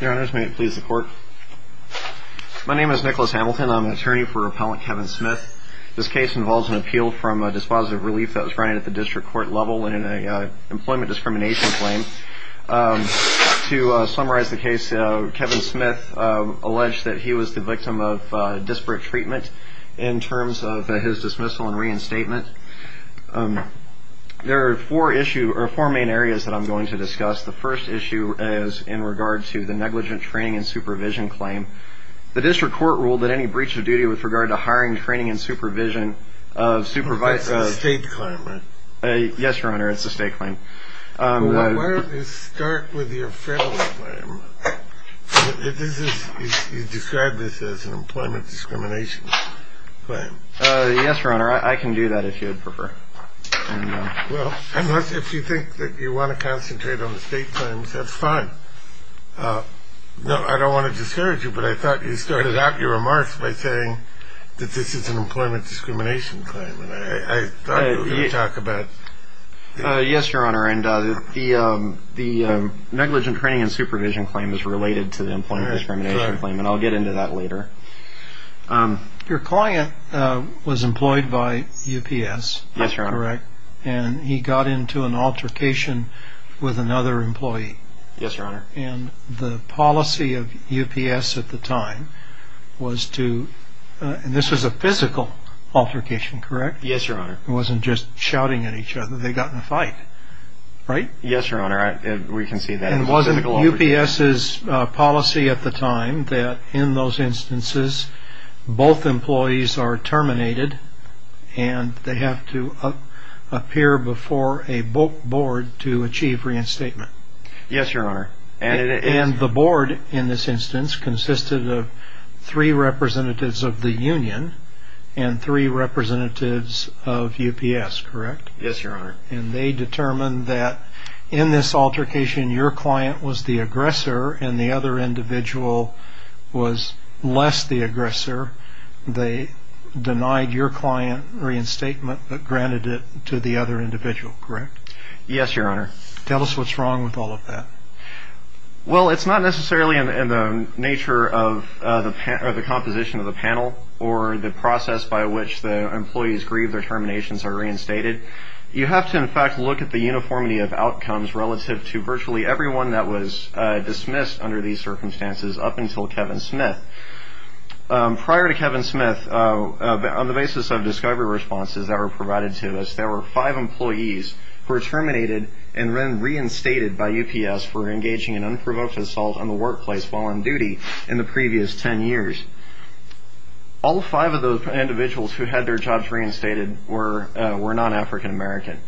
your honors may it please the court my name is Nicholas Hamilton I'm an attorney for appellant Kevin Smith this case involves an appeal from a dispositive relief that was granted at the district court level and in a employment discrimination claim to summarize the case Kevin Smith alleged that he was the victim of disparate treatment in terms of his dismissal and reinstatement there are four issue or four main areas that I'm going to negligent training and supervision claim the district court ruled that any breach of duty with regard to hiring training and supervision of supervise a state climber yes your honor it's a state claim yes your honor I can do that if you'd prefer well unless if you think that you want to concentrate on the state claims that's fine no I don't want to discourage you but I thought you started out your remarks by saying that this is an employment discrimination claim and I talk about yes your honor and the the negligent training and supervision claim is related to the employment discrimination claim and I'll get into that later your client was employed by UPS yes you're right and he got into an altercation with another employee yes your honor and the policy of UPS at the time was to this is a physical altercation correct yes your honor it wasn't just shouting at each other they got in a fight right yes your honor we can see that it wasn't UPS's policy at the time that in those to achieve reinstatement yes your honor and the board in this instance consisted of three representatives of the Union and three representatives of UPS correct yes your honor and they determined that in this altercation your client was the aggressor and the other individual was less the aggressor they denied your client reinstatement but granted it to the other individual correct yes your honor tell us what's wrong with all of that well it's not necessarily in the nature of the composition of the panel or the process by which the employees grieve their terminations are reinstated you have to in fact look at the uniformity of outcomes relative to virtually everyone that was dismissed under these circumstances up until Kevin Smith prior to Kevin Smith on the basis of discovery responses that were provided to us there were five employees who were terminated and then reinstated by UPS for engaging in unprovoked assault on the workplace while on duty in the previous ten years all five of those individuals who had their jobs reinstated were were non-African American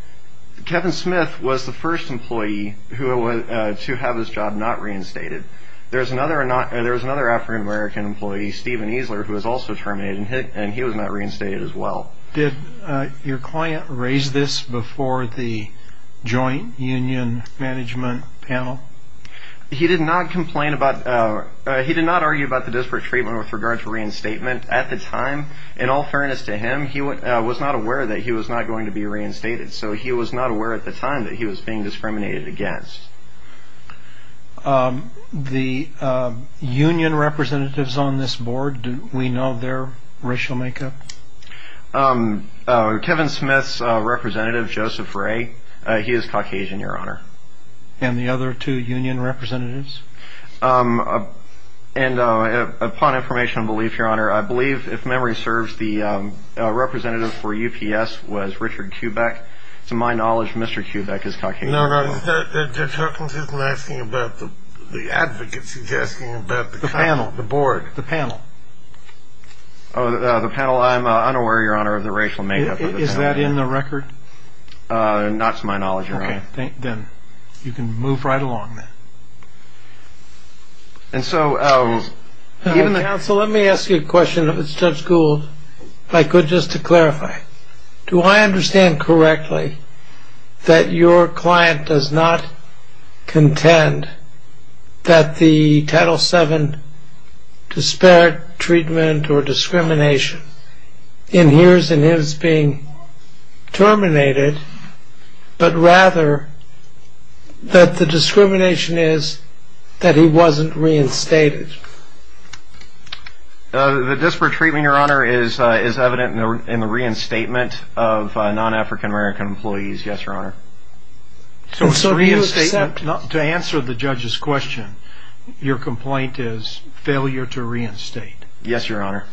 Kevin Smith was the first employee who was to have his job not reinstated there's another or not there was another African American employee Stephen Easler who was also terminated and he was not reinstated as well did your client raise this before the joint union management panel he did not complain about he did not argue about the disparate treatment with regard to reinstatement at the time in all fairness to him he was not aware that he was not going to be reinstated so he was not aware at the time that he was being we know their racial makeup Kevin Smith's representative Joseph Ray he is Caucasian your honor and the other two union representatives and upon information belief your honor I believe if memory serves the representative for UPS was Richard Quebec to my knowledge mr. Quebec is talking about the panel the board the panel oh the panel I'm unaware your honor of the racial makeup is that in the record not to my knowledge you're on then you can move right along and so even the council let me ask you a question if it's judge Gould if I could just to clarify do I understand correctly that your client does not contend that the title 7 disparate treatment or discrimination in here's and is being terminated but rather that the discrimination is that he wasn't reinstated the disparate treatment your honor is is evident in the reinstatement of non-african-american employees yes your honor so so to answer the judge's question your complaint is failure to reinstate yes your honor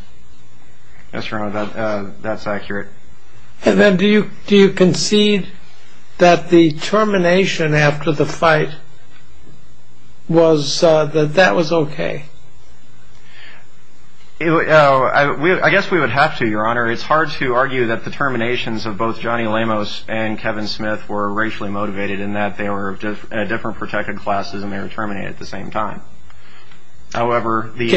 yes your honor that that's accurate and then do you do you concede that the termination after the fight was that that was okay I guess we would have to your honor it's hard to argue that the terminations of both Johnny Lamos and Kevin Smith were racially motivated in that they were different protected classes and they were terminated at the same time however the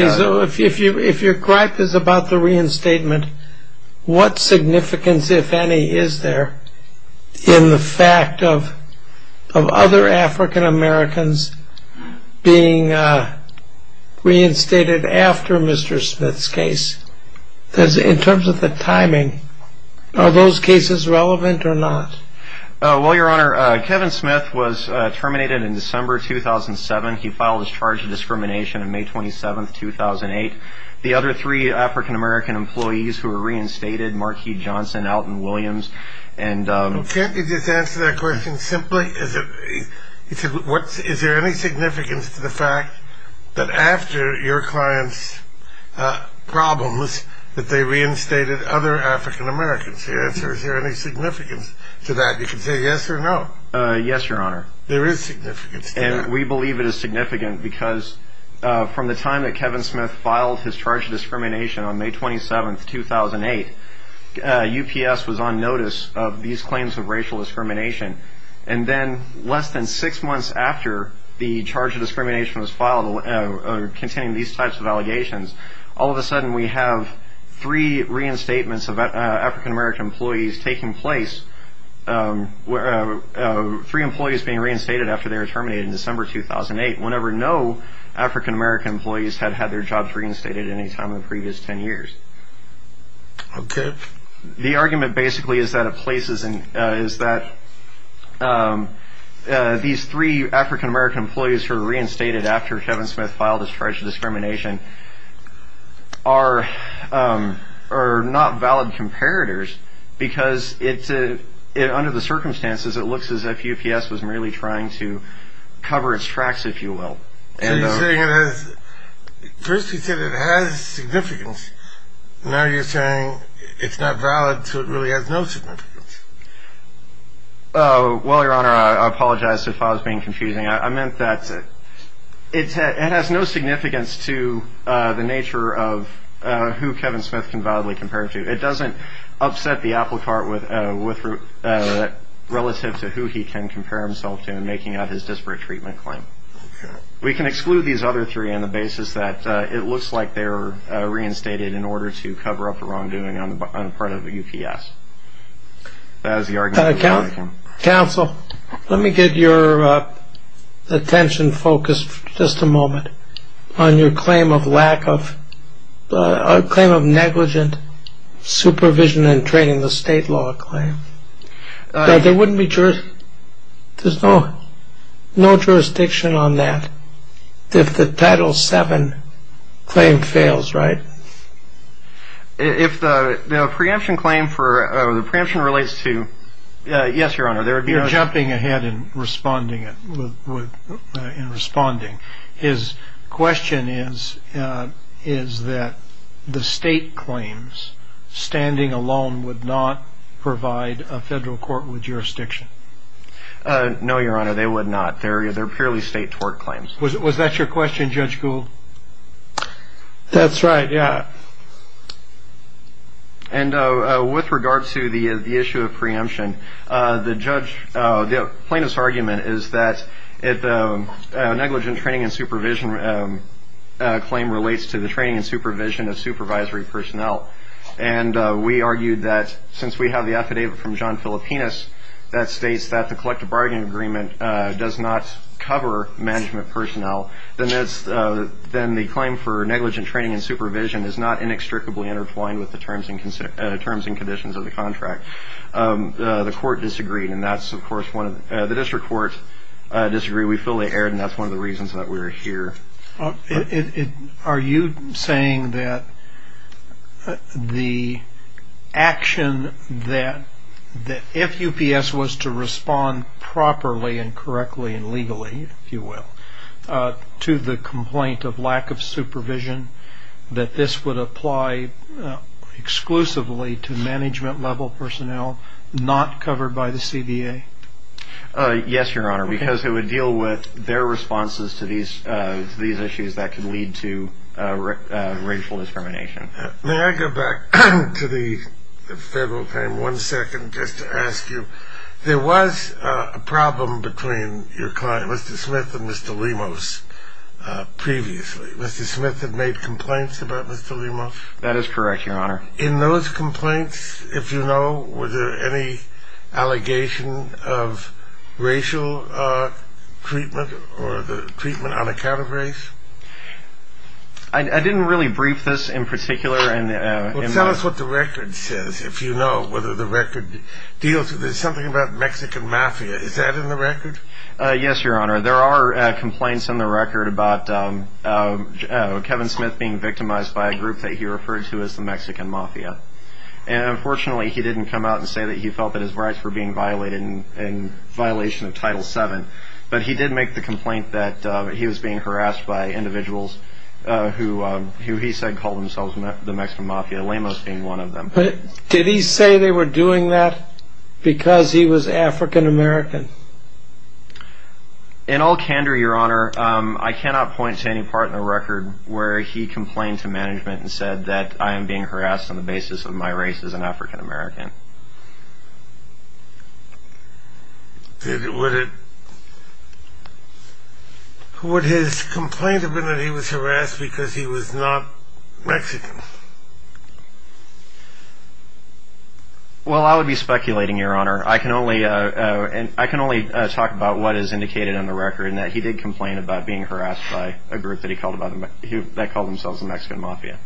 if you if your gripe is about the reinstatement what significance if any is there in the fact of of other african-americans being reinstated after mr. Smith's case does it in terms of the timing of those cases relevant or not well your honor Kevin Smith was terminated in December 2007 he filed his charge of discrimination in May 27 2008 the other three african-american employees who were reinstated Marquis Johnson Alton Williams and simply is it what is there any significance to the fact that after your clients problems that they reinstated other african-americans here is there any significance to that you can say yes or no yes your honor there is significant and we believe it is significant because from the time that Kevin Smith filed his charge of discrimination on May 27 2008 UPS was on notice of these claims of after the charge of discrimination was filed containing these types of allegations all of a sudden we have three reinstatements of african-american employees taking place where three employees being reinstated after they were terminated in December 2008 whenever no african-american employees had had their jobs reinstated any time in the previous 10 years okay the three african-american employees who reinstated after Kevin Smith filed his charge of discrimination are are not valid comparators because it's under the circumstances it looks as if UPS was merely trying to cover its tracks if you will first he said it has significance now you're saying it's not valid so it confusing I meant that it has no significance to the nature of who Kevin Smith can validly compared to it doesn't upset the applecart with with relative to who he can compare himself to making out his disparate treatment claim we can exclude these other three on the basis that it looks like they're reinstated in order to cover up the wrongdoing on the part of UPS as the argument counsel let me get your attention focused just a moment on your claim of lack of a claim of negligent supervision and training the state law claim there wouldn't be church there's no no jurisdiction on that if the title seven claim fails right if the preemption claim for the preemption relates to yes your honor they're jumping ahead in responding in responding his question is is that the state claims standing alone would not provide a federal court with jurisdiction no your honor they would not there either purely state tort claims was that your question judge Gould that's right yeah and with regard to the the issue of preemption the judge the plaintiff's argument is that it's a negligent training and supervision claim relates to the training and supervision of supervisory personnel and we argued that since we have the affidavit from John Filipinas that states that the collective bargaining agreement does not cover management personnel then that's then the claim for negligent training and supervision is not inextricably intertwined with the contract the court disagreed and that's of course one of the district courts disagree we fully aired and that's one of the reasons that we're here are you saying that the action that the FUPS was to respond properly and correctly and legally if you will to the complaint of lack of supervision that this would apply exclusively to management level personnel not covered by the CBA yes your honor because it would deal with their responses to these these issues that can lead to racial discrimination may I go back to the federal claim one second just to ask you there was a problem between your client mr. Smith and mr. Lemos previously mr. Smith had made complaints about mr. Lemos that is correct your honor in those complaints if you know were there any allegation of racial treatment or the treatment on account of race I didn't really brief this in particular and it sounds what the record says if you know whether the record deals with there's something about Mexican mafia is that in the complaints in the record about Kevin Smith being victimized by a group that he referred to as the Mexican mafia and unfortunately he didn't come out and say that he felt that his rights were being violated in violation of title 7 but he did make the complaint that he was being harassed by individuals who he said called themselves the Mexican mafia Lemos being one of them but did he say they were doing that because he was african-american in all candor your honor I cannot point to any part in the record where he complained to management and said that I am being harassed on the basis of my race as an african-american would his complaint have been that he was harassed because he was not Mexican well I would be speculating your honor I can only and I can only talk about what is indicated in the record and that he did complain about being harassed by a group that he called about him that call themselves the Mexican mafia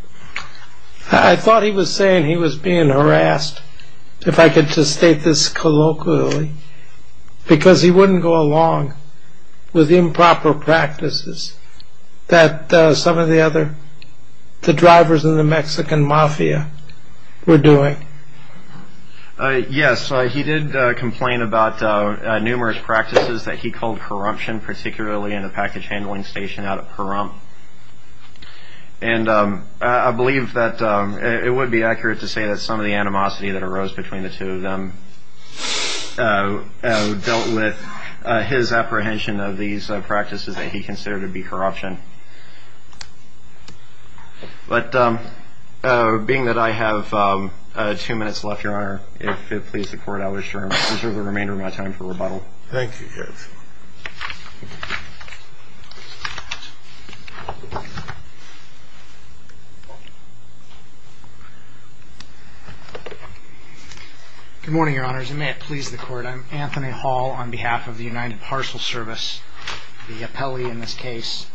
I thought he was saying he was being harassed if I could just state this colloquially because he wouldn't go along with improper practices that some of the other the drivers in the Mexican mafia were doing yes he did complain about numerous practices that he called corruption particularly in a package and I believe that it would be accurate to say that some of the animosity that arose between the two of them dealt with his apprehension of these practices that he considered to be corruption but being that I have two minutes left your honor if it please the court I wish to reserve the remainder of my time for good morning your honors and may it please the court I'm Anthony Hall on behalf of the United Parcel Service the appellee in this case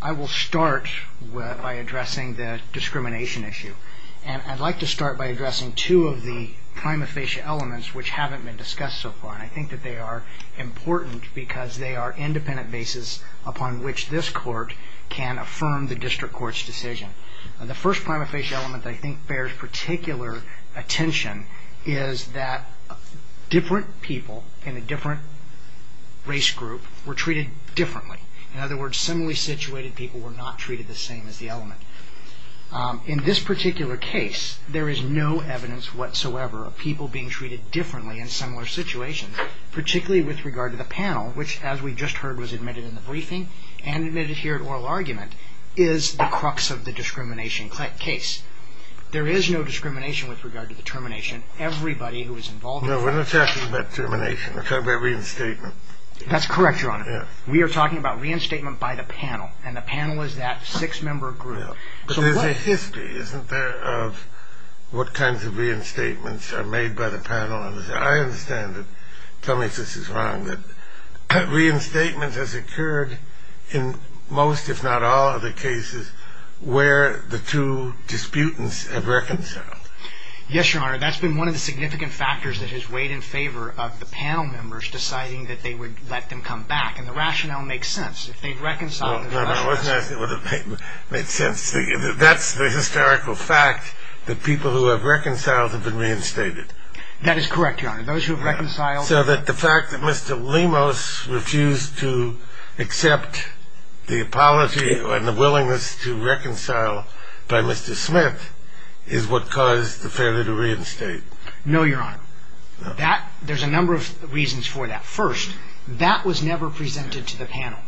I will start by addressing the discrimination issue and I'd like to start by addressing two of the prima facie elements which haven't been discussed so far I think that they are important because they are independent basis upon which this court can affirm the district court's decision and the first prima facie element I think bears particular attention is that different people in a different race group were treated differently in other words similarly situated people were not treated the same as the element in this particular case there is no evidence whatsoever of people being treated differently in similar situations particularly with regard to the panel which as we just heard was admitted in the briefing and admitted here at oral argument is the crux of the discrimination case there is no discrimination with regard to the termination everybody who is involved in the termination of every statement that's correct your honor we are talking about reinstatement by the panel and the panel is that six-member group history isn't there of what kinds of reinstatements are made by the panel and I understand it tell me if this is wrong that reinstatement has occurred in most if not all of the cases where the two disputants have reconciled yes your honor that's been one of the significant factors that has weighed in favor of the panel members deciding that they would let them come back and the rationale makes sense if they've reconciled that's the historical fact that people who have reconciled have been reinstated that is correct your honor those who have reconciled so that the fact that Mr. Lemos refused to accept the apology and the willingness to reconcile by Mr. Smith is what caused the failure to reinstate no your honor that there's a number of reasons for that first that was never presented to the panel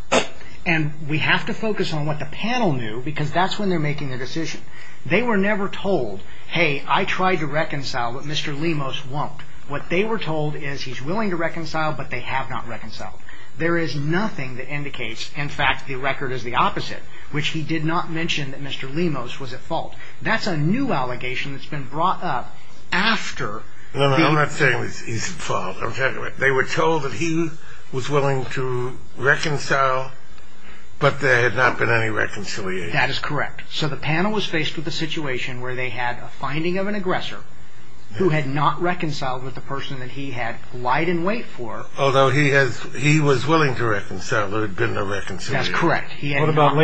and we have to focus on what the panel knew because that's when they're making a decision they were never told hey I try to reconcile but Mr. Lemos won't what they were told is he's willing to reconcile but they have not reconciled there is nothing that indicates in fact the record is the opposite which he did not mention that Mr. Lemos was at fault that's a new allegation that's been brought up after no I'm not saying he's at fault I'm talking about they were told that he was willing to reconcile but there had not been any reconciliation that is correct so the panel was faced with a aggressor who had not reconciled with the person that he had lied in wait for although he has he was willing to reconcile there had been no reconciliation that's correct he had not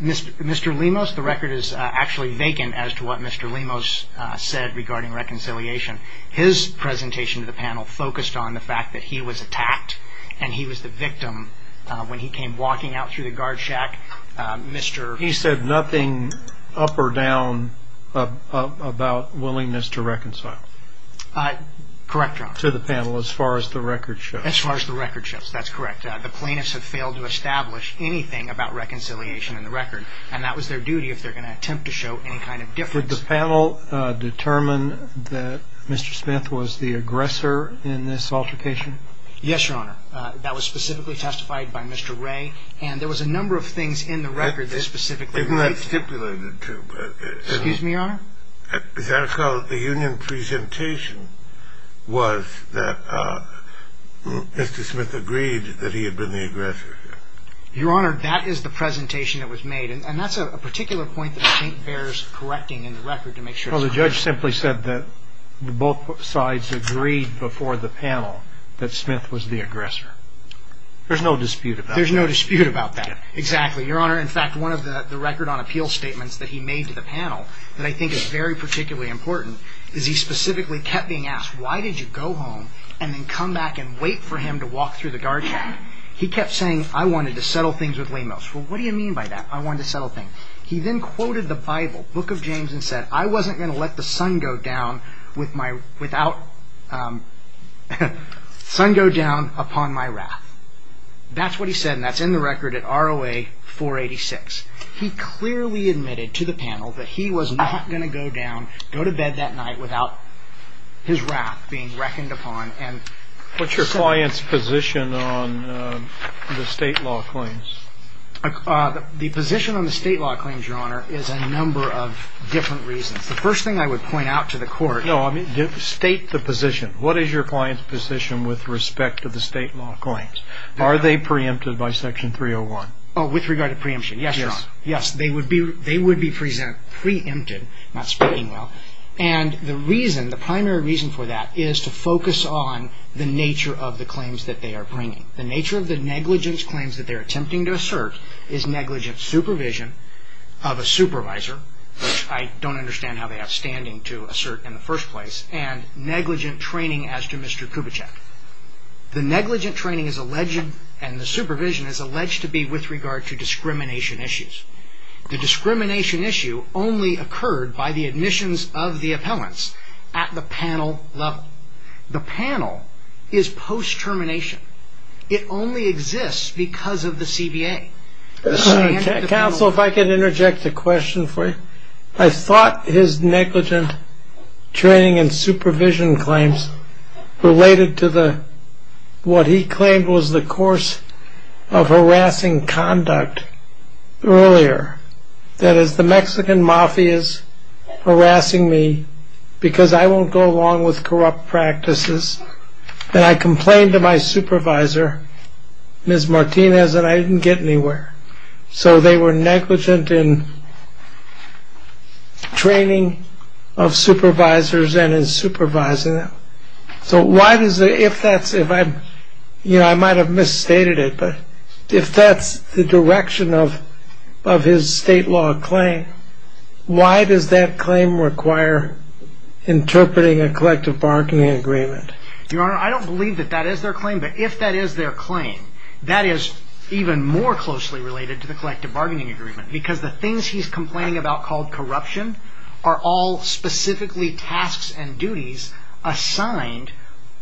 Mr. Lemos the record is actually vacant as to what Mr. Lemos said regarding reconciliation his presentation to the panel focused on the fact that he was attacked and he was the victim when he came walking out through the guard shack mr. he said nothing up or down about willingness to reconcile correct to the panel as far as the record shows as far as the record shows that's correct the plaintiffs have failed to establish anything about reconciliation in the record and that was their duty if they're going to attempt to show any kind of difference the panel determined that mr. Smith was the aggressor in this altercation yes your honor that was specifically testified by mr. Ray and there was a number of things in the record that specifically stipulated to excuse me your honor that's how the union presentation was that mr. Smith agreed that he had been the aggressor your honor that is the presentation that was made and that's a particular point that I think bears correcting in the record to make sure the judge simply said that both sides agreed before the panel that Smith was the aggressor there's no dispute about there's no dispute about that exactly your honor in fact one of the record on appeal statements that he made to the panel that I think is very particularly important is he specifically kept being asked why did you go home and then come back and wait for him to walk through the guard he kept saying I wanted to settle things with lamos well what do you mean by that I want to settle things he then quoted the Bible book of James and said I wasn't gonna let the Sun go down with my without Sun go down upon my wrath that's what he said that's in the record at ROA 486 he clearly admitted to the panel that he was not gonna go down go to bed that night without his wrath being reckoned upon and what's your client's position on the state law claims the position on the state law claims your honor is a number of different reasons the first thing I would point out to the court no I mean state the position what is your client's position with respect to the state law claims are they preempted by section 301 oh with regard to preemption yes yes they would be they would be present preempted not speaking well and the reason the primary reason for that is to focus on the nature of the claims that they are bringing the nature of the negligence claims that they're don't understand how they have standing to assert in the first place and negligent training as to mr. Kubitschek the negligent training is alleged and the supervision is alleged to be with regard to discrimination issues the discrimination issue only occurred by the admissions of the appellants at the panel level the panel is post termination it only exists because of counsel if I could interject a question for you I thought his negligent training and supervision claims related to the what he claimed was the course of harassing conduct earlier that is the Mexican mafia's harassing me because I won't go along with corrupt practices and I complained to my supervisor miss Martinez that I didn't get anywhere so they were negligent in training of supervisors and in supervising them so why does it if that's if I you know I might have misstated it but if that's the direction of of his state law claim why does that claim require interpreting a collective bargaining agreement your I don't believe that that is their claim but if that is their claim that is even more closely related to the collective bargaining agreement because the things he's complaining about called corruption are all specifically tasks and duties assigned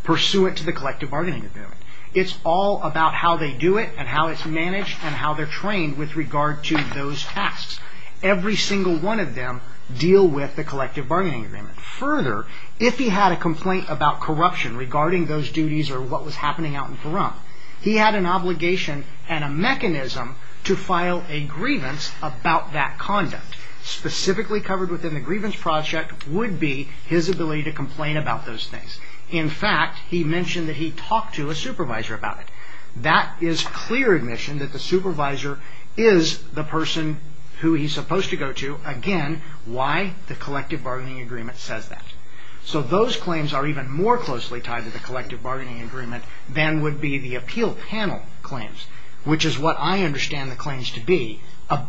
pursuant to the collective bargaining agreement it's all about how they do it and how it's managed and how they're trained with regard to those tasks every single one of them deal with the collective bargaining agreement further if he had a complaint about corruption regarding those duties or what was happening out in front he had an obligation and a mechanism to file a grievance about that conduct specifically covered within the grievance project would be his ability to complain about those things in fact he mentioned that he talked to a supervisor about it that is clear admission that the supervisor is the person who he's supposed to go to again why the so those claims are even more closely tied to the collective bargaining agreement then would be the appeal panel claims which is what I understand the claims to be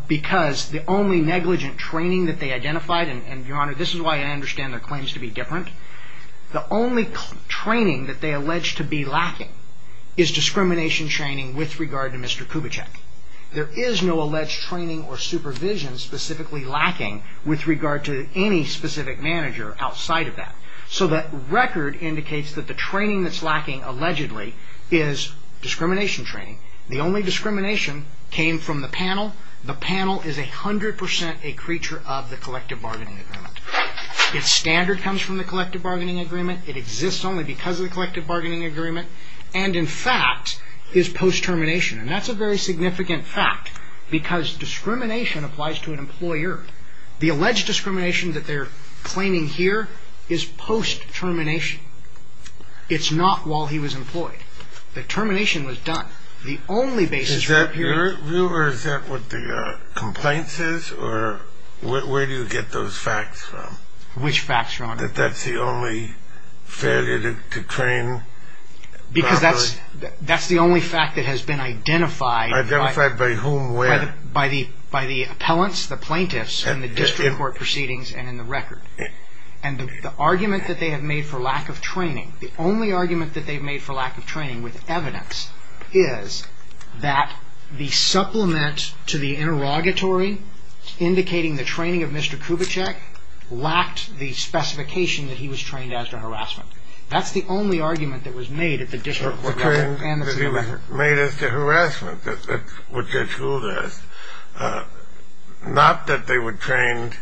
because the only negligent training that they identified and your honor this is why I understand their claims to be different the only training that they allege to be lacking is discrimination training with regard to mr. Kubitschek there is no alleged training or supervision specifically lacking with regard to any specific manager outside of that so that record indicates that the training that's lacking allegedly is discrimination training the only discrimination came from the panel the panel is a hundred percent a creature of the collective bargaining agreement its standard comes from the collective bargaining agreement it exists only because the collective bargaining agreement and in fact is post termination and that's a very the alleged discrimination that they're claiming here is post termination it's not while he was employed the termination was done the only basis here is that what the complaints is or where do you get those facts from which facts wrong that that's the only failure to train because that's that's the only fact that has been identified identified by whom where by the by the appellants the plaintiffs and the district court proceedings and in the record and the argument that they have made for lack of training the only argument that they've made for lack of training with evidence is that the supplement to the interrogatory indicating the training of mr. Kubitschek lacked the specification that he was trained as to harassment that's the only argument that was made at the district made us to harassment that would get through this not that they were trained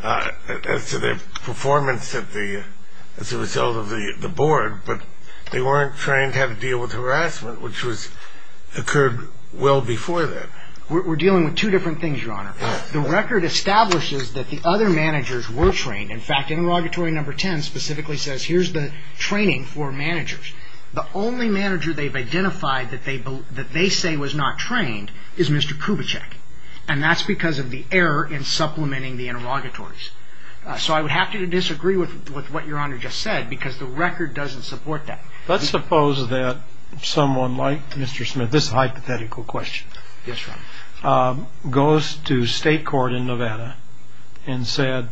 as to their performance at the as a result of the board but they weren't trained how to deal with harassment which was occurred well before that we're dealing with two different things your honor the record establishes that the other managers were trained in fact interrogatory number 10 specifically says here's the training for managers the only manager they've trained is mr. Kubitschek and that's because of the error in supplementing the interrogatories so I would have to disagree with what your honor just said because the record doesn't support that let's suppose that someone like mr. Smith this hypothetical question goes to state court in Nevada and said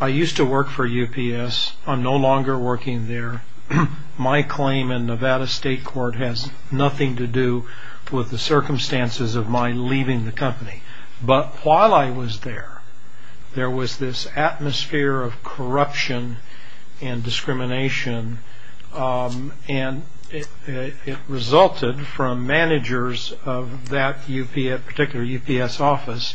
I used to work for UPS I'm no longer working there my claim in Nevada State Court has nothing to do with the circumstances of my leaving the company but while I was there there was this atmosphere of corruption and discrimination and it resulted from managers of that UPS particular UPS office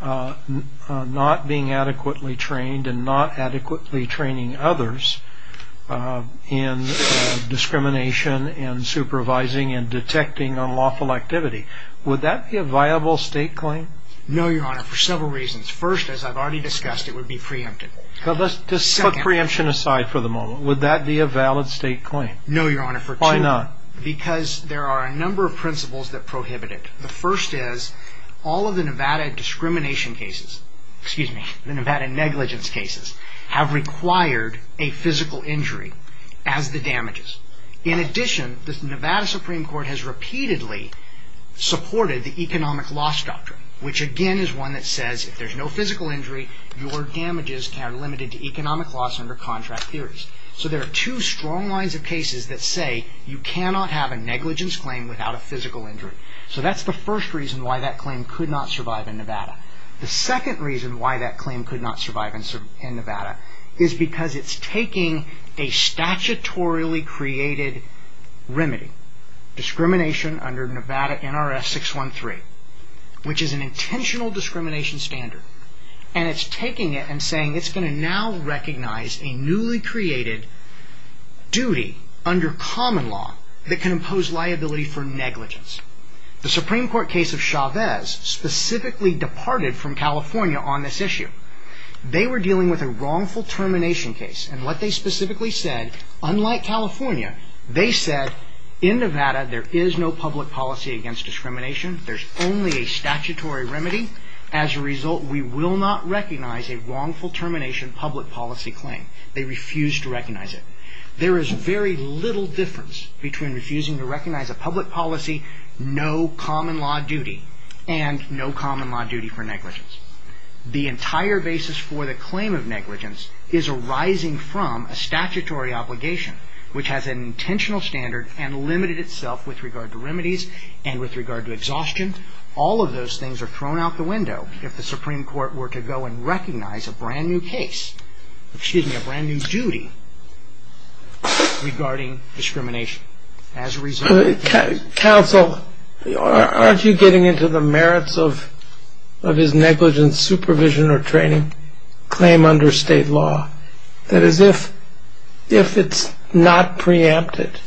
not being adequately trained and not adequately training others in discrimination and supervising and detecting unlawful activity would that be a viable state claim no your honor for several reasons first as I've already discussed it would be preempted so let's just put preemption aside for the moment would that be a valid state claim no your honor for why not because there are a number of principles that prohibit it the first is all of the Nevada discrimination cases excuse me the Nevada negligence cases have required a Nevada Supreme Court has repeatedly supported the economic loss doctrine which again is one that says if there's no physical injury your damages are limited to economic loss under contract theories so there are two strong lines of cases that say you cannot have a negligence claim without a physical injury so that's the first reason why that claim could not survive in Nevada the second reason why that claim could not survive in Nevada is because it's taking a statutorily created remedy discrimination under Nevada NRS 613 which is an intentional discrimination standard and it's taking it and saying it's going to now recognize a newly created duty under common law that can impose liability for negligence the Supreme Court case of Chavez specifically departed from California on this issue they were dealing with a they specifically said unlike California they said in Nevada there is no public policy against discrimination there's only a statutory remedy as a result we will not recognize a wrongful termination public policy claim they refuse to recognize it there is very little difference between refusing to recognize a public policy no common law duty and no common law duty for a statutory obligation which has an intentional standard and limited itself with regard to remedies and with regard to exhaustion all of those things are thrown out the window if the Supreme Court were to go and recognize a brand new case excuse me a brand new duty regarding discrimination as a result counsel aren't you getting into the merits of of his negligence supervision or training claim under state law that is if if it's not preempted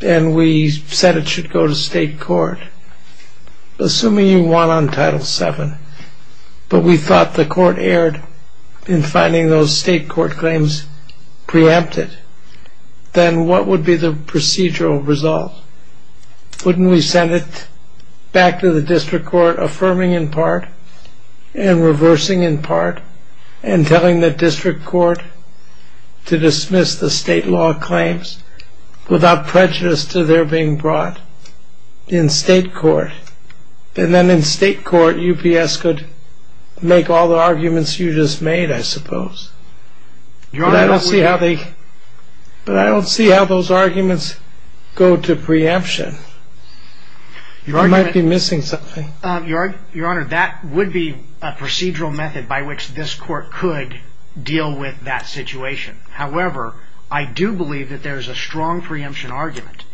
and we said it should go to state court assuming you want on title seven but we thought the court erred in finding those state court claims preempted then what would be the procedural result wouldn't we send it back to the district court affirming in part and reversing in part and telling the district court to dismiss the state law claims without prejudice to their being brought in state court and then in state court UPS could make all the arguments you just made I suppose but I don't see how they but I don't see how those arguments go to preemption you're missing something your your honor that would be a procedural method by which this court could deal with that situation however I do believe that there's a strong preemption argument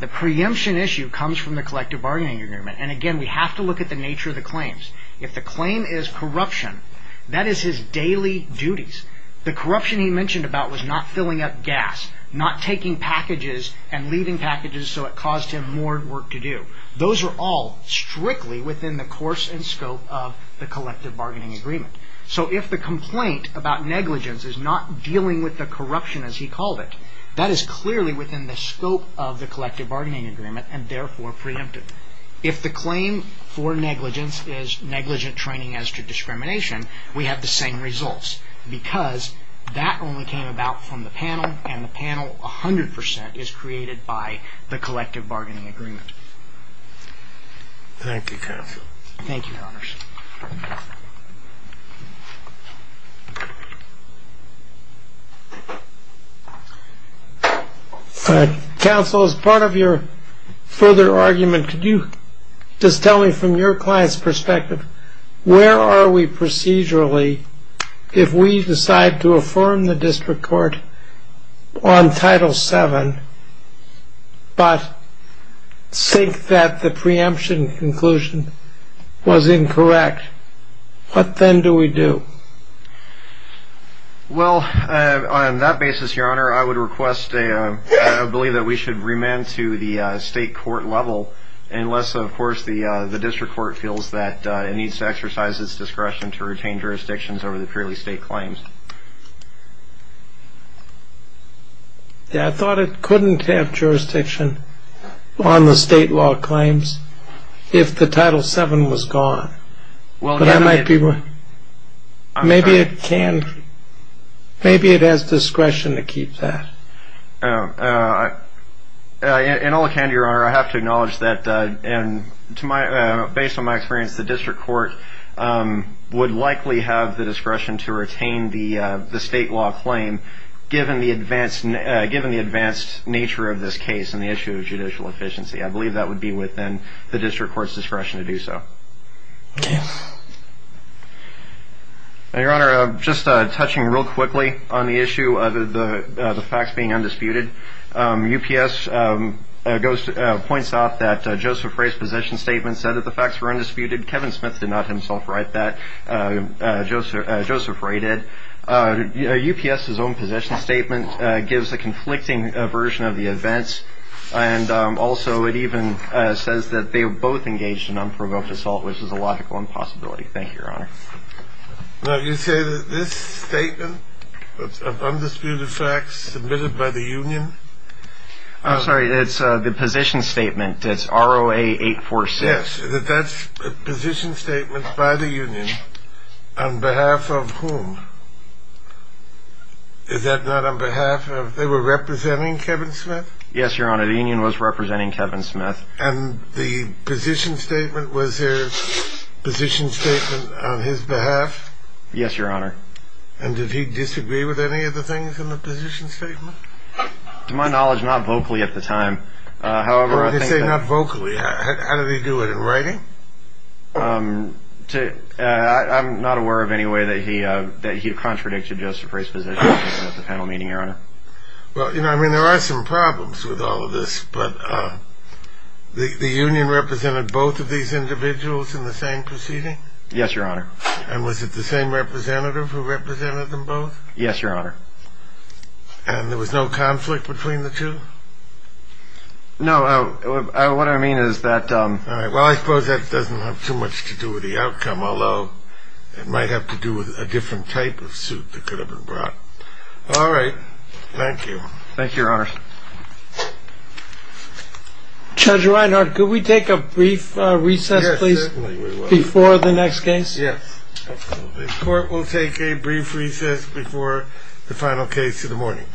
the preemption issue comes from the collective bargaining agreement and again we have to look at the nature of the claims if the claim is corruption that is his daily duties the corruption he mentioned about was not filling up gas not taking packages and leaving packages so it caused him more work to do those are all strictly within the course and scope of the collective bargaining agreement so if the complaint about negligence is not dealing with the corruption as he called it that is clearly within the scope of the collective bargaining agreement and therefore preempted if the claim for negligence is negligent training as to discrimination we have the same results because that only came about from the the collective bargaining agreement thank you thank you counsel as part of your further argument could you just tell me from your clients perspective where are we procedurally if we decide to affirm the but say that the preemption conclusion was incorrect what then do we do well on that basis your honor I would request a believe that we should remand to the state court level unless of course the the district court feels that it needs to exercise its discretion to retain jurisdictions over the purely state claims I thought it couldn't have jurisdiction on the state law claims if the title 7 was gone well that might be one maybe it can maybe it has discretion to keep that and all can your honor I have to acknowledge that and to my based on my experience the district court would likely have the discretion to retain the the state law claim given the advanced and given the advanced nature of this case and the issue of judicial efficiency I believe that would be within the district court's discretion to do so your honor just touching real quickly on the issue of the the facts being undisputed UPS goes to points off that Joseph race position statement said that the facts were Joseph rated UPS his own position statement gives a conflicting version of the events and also it even says that they were both engaged in unprovoked assault which is a logical impossibility thank you your honor now you say that this statement of undisputed facts submitted by the Union I'm sorry it's the position statement that's ROA 846 that's a position statement by the Union on behalf of whom is that not on behalf of they were representing Kevin Smith yes your honor the Union was representing Kevin Smith and the position statement was their position statement on his behalf yes your honor and did he disagree with any of the things in the position statement to my knowledge not vocally at the time however I say not vocally how did he do it in writing I'm not aware of any way that he that he contradicted Joseph race position at the panel meeting your honor well you know I mean there are some problems with all of this but the Union represented both of these individuals in the same proceeding yes your honor and was it the same representative who represented them both yes your honor and there was no between the two no what I mean is that well I suppose that doesn't have too much to do with the outcome although it might have to do with a different type of suit that could have been brought all right thank you thank you your honor judge Reinhardt could we take a brief recess please before the next case yes the court will take a brief recess before the final case in the morning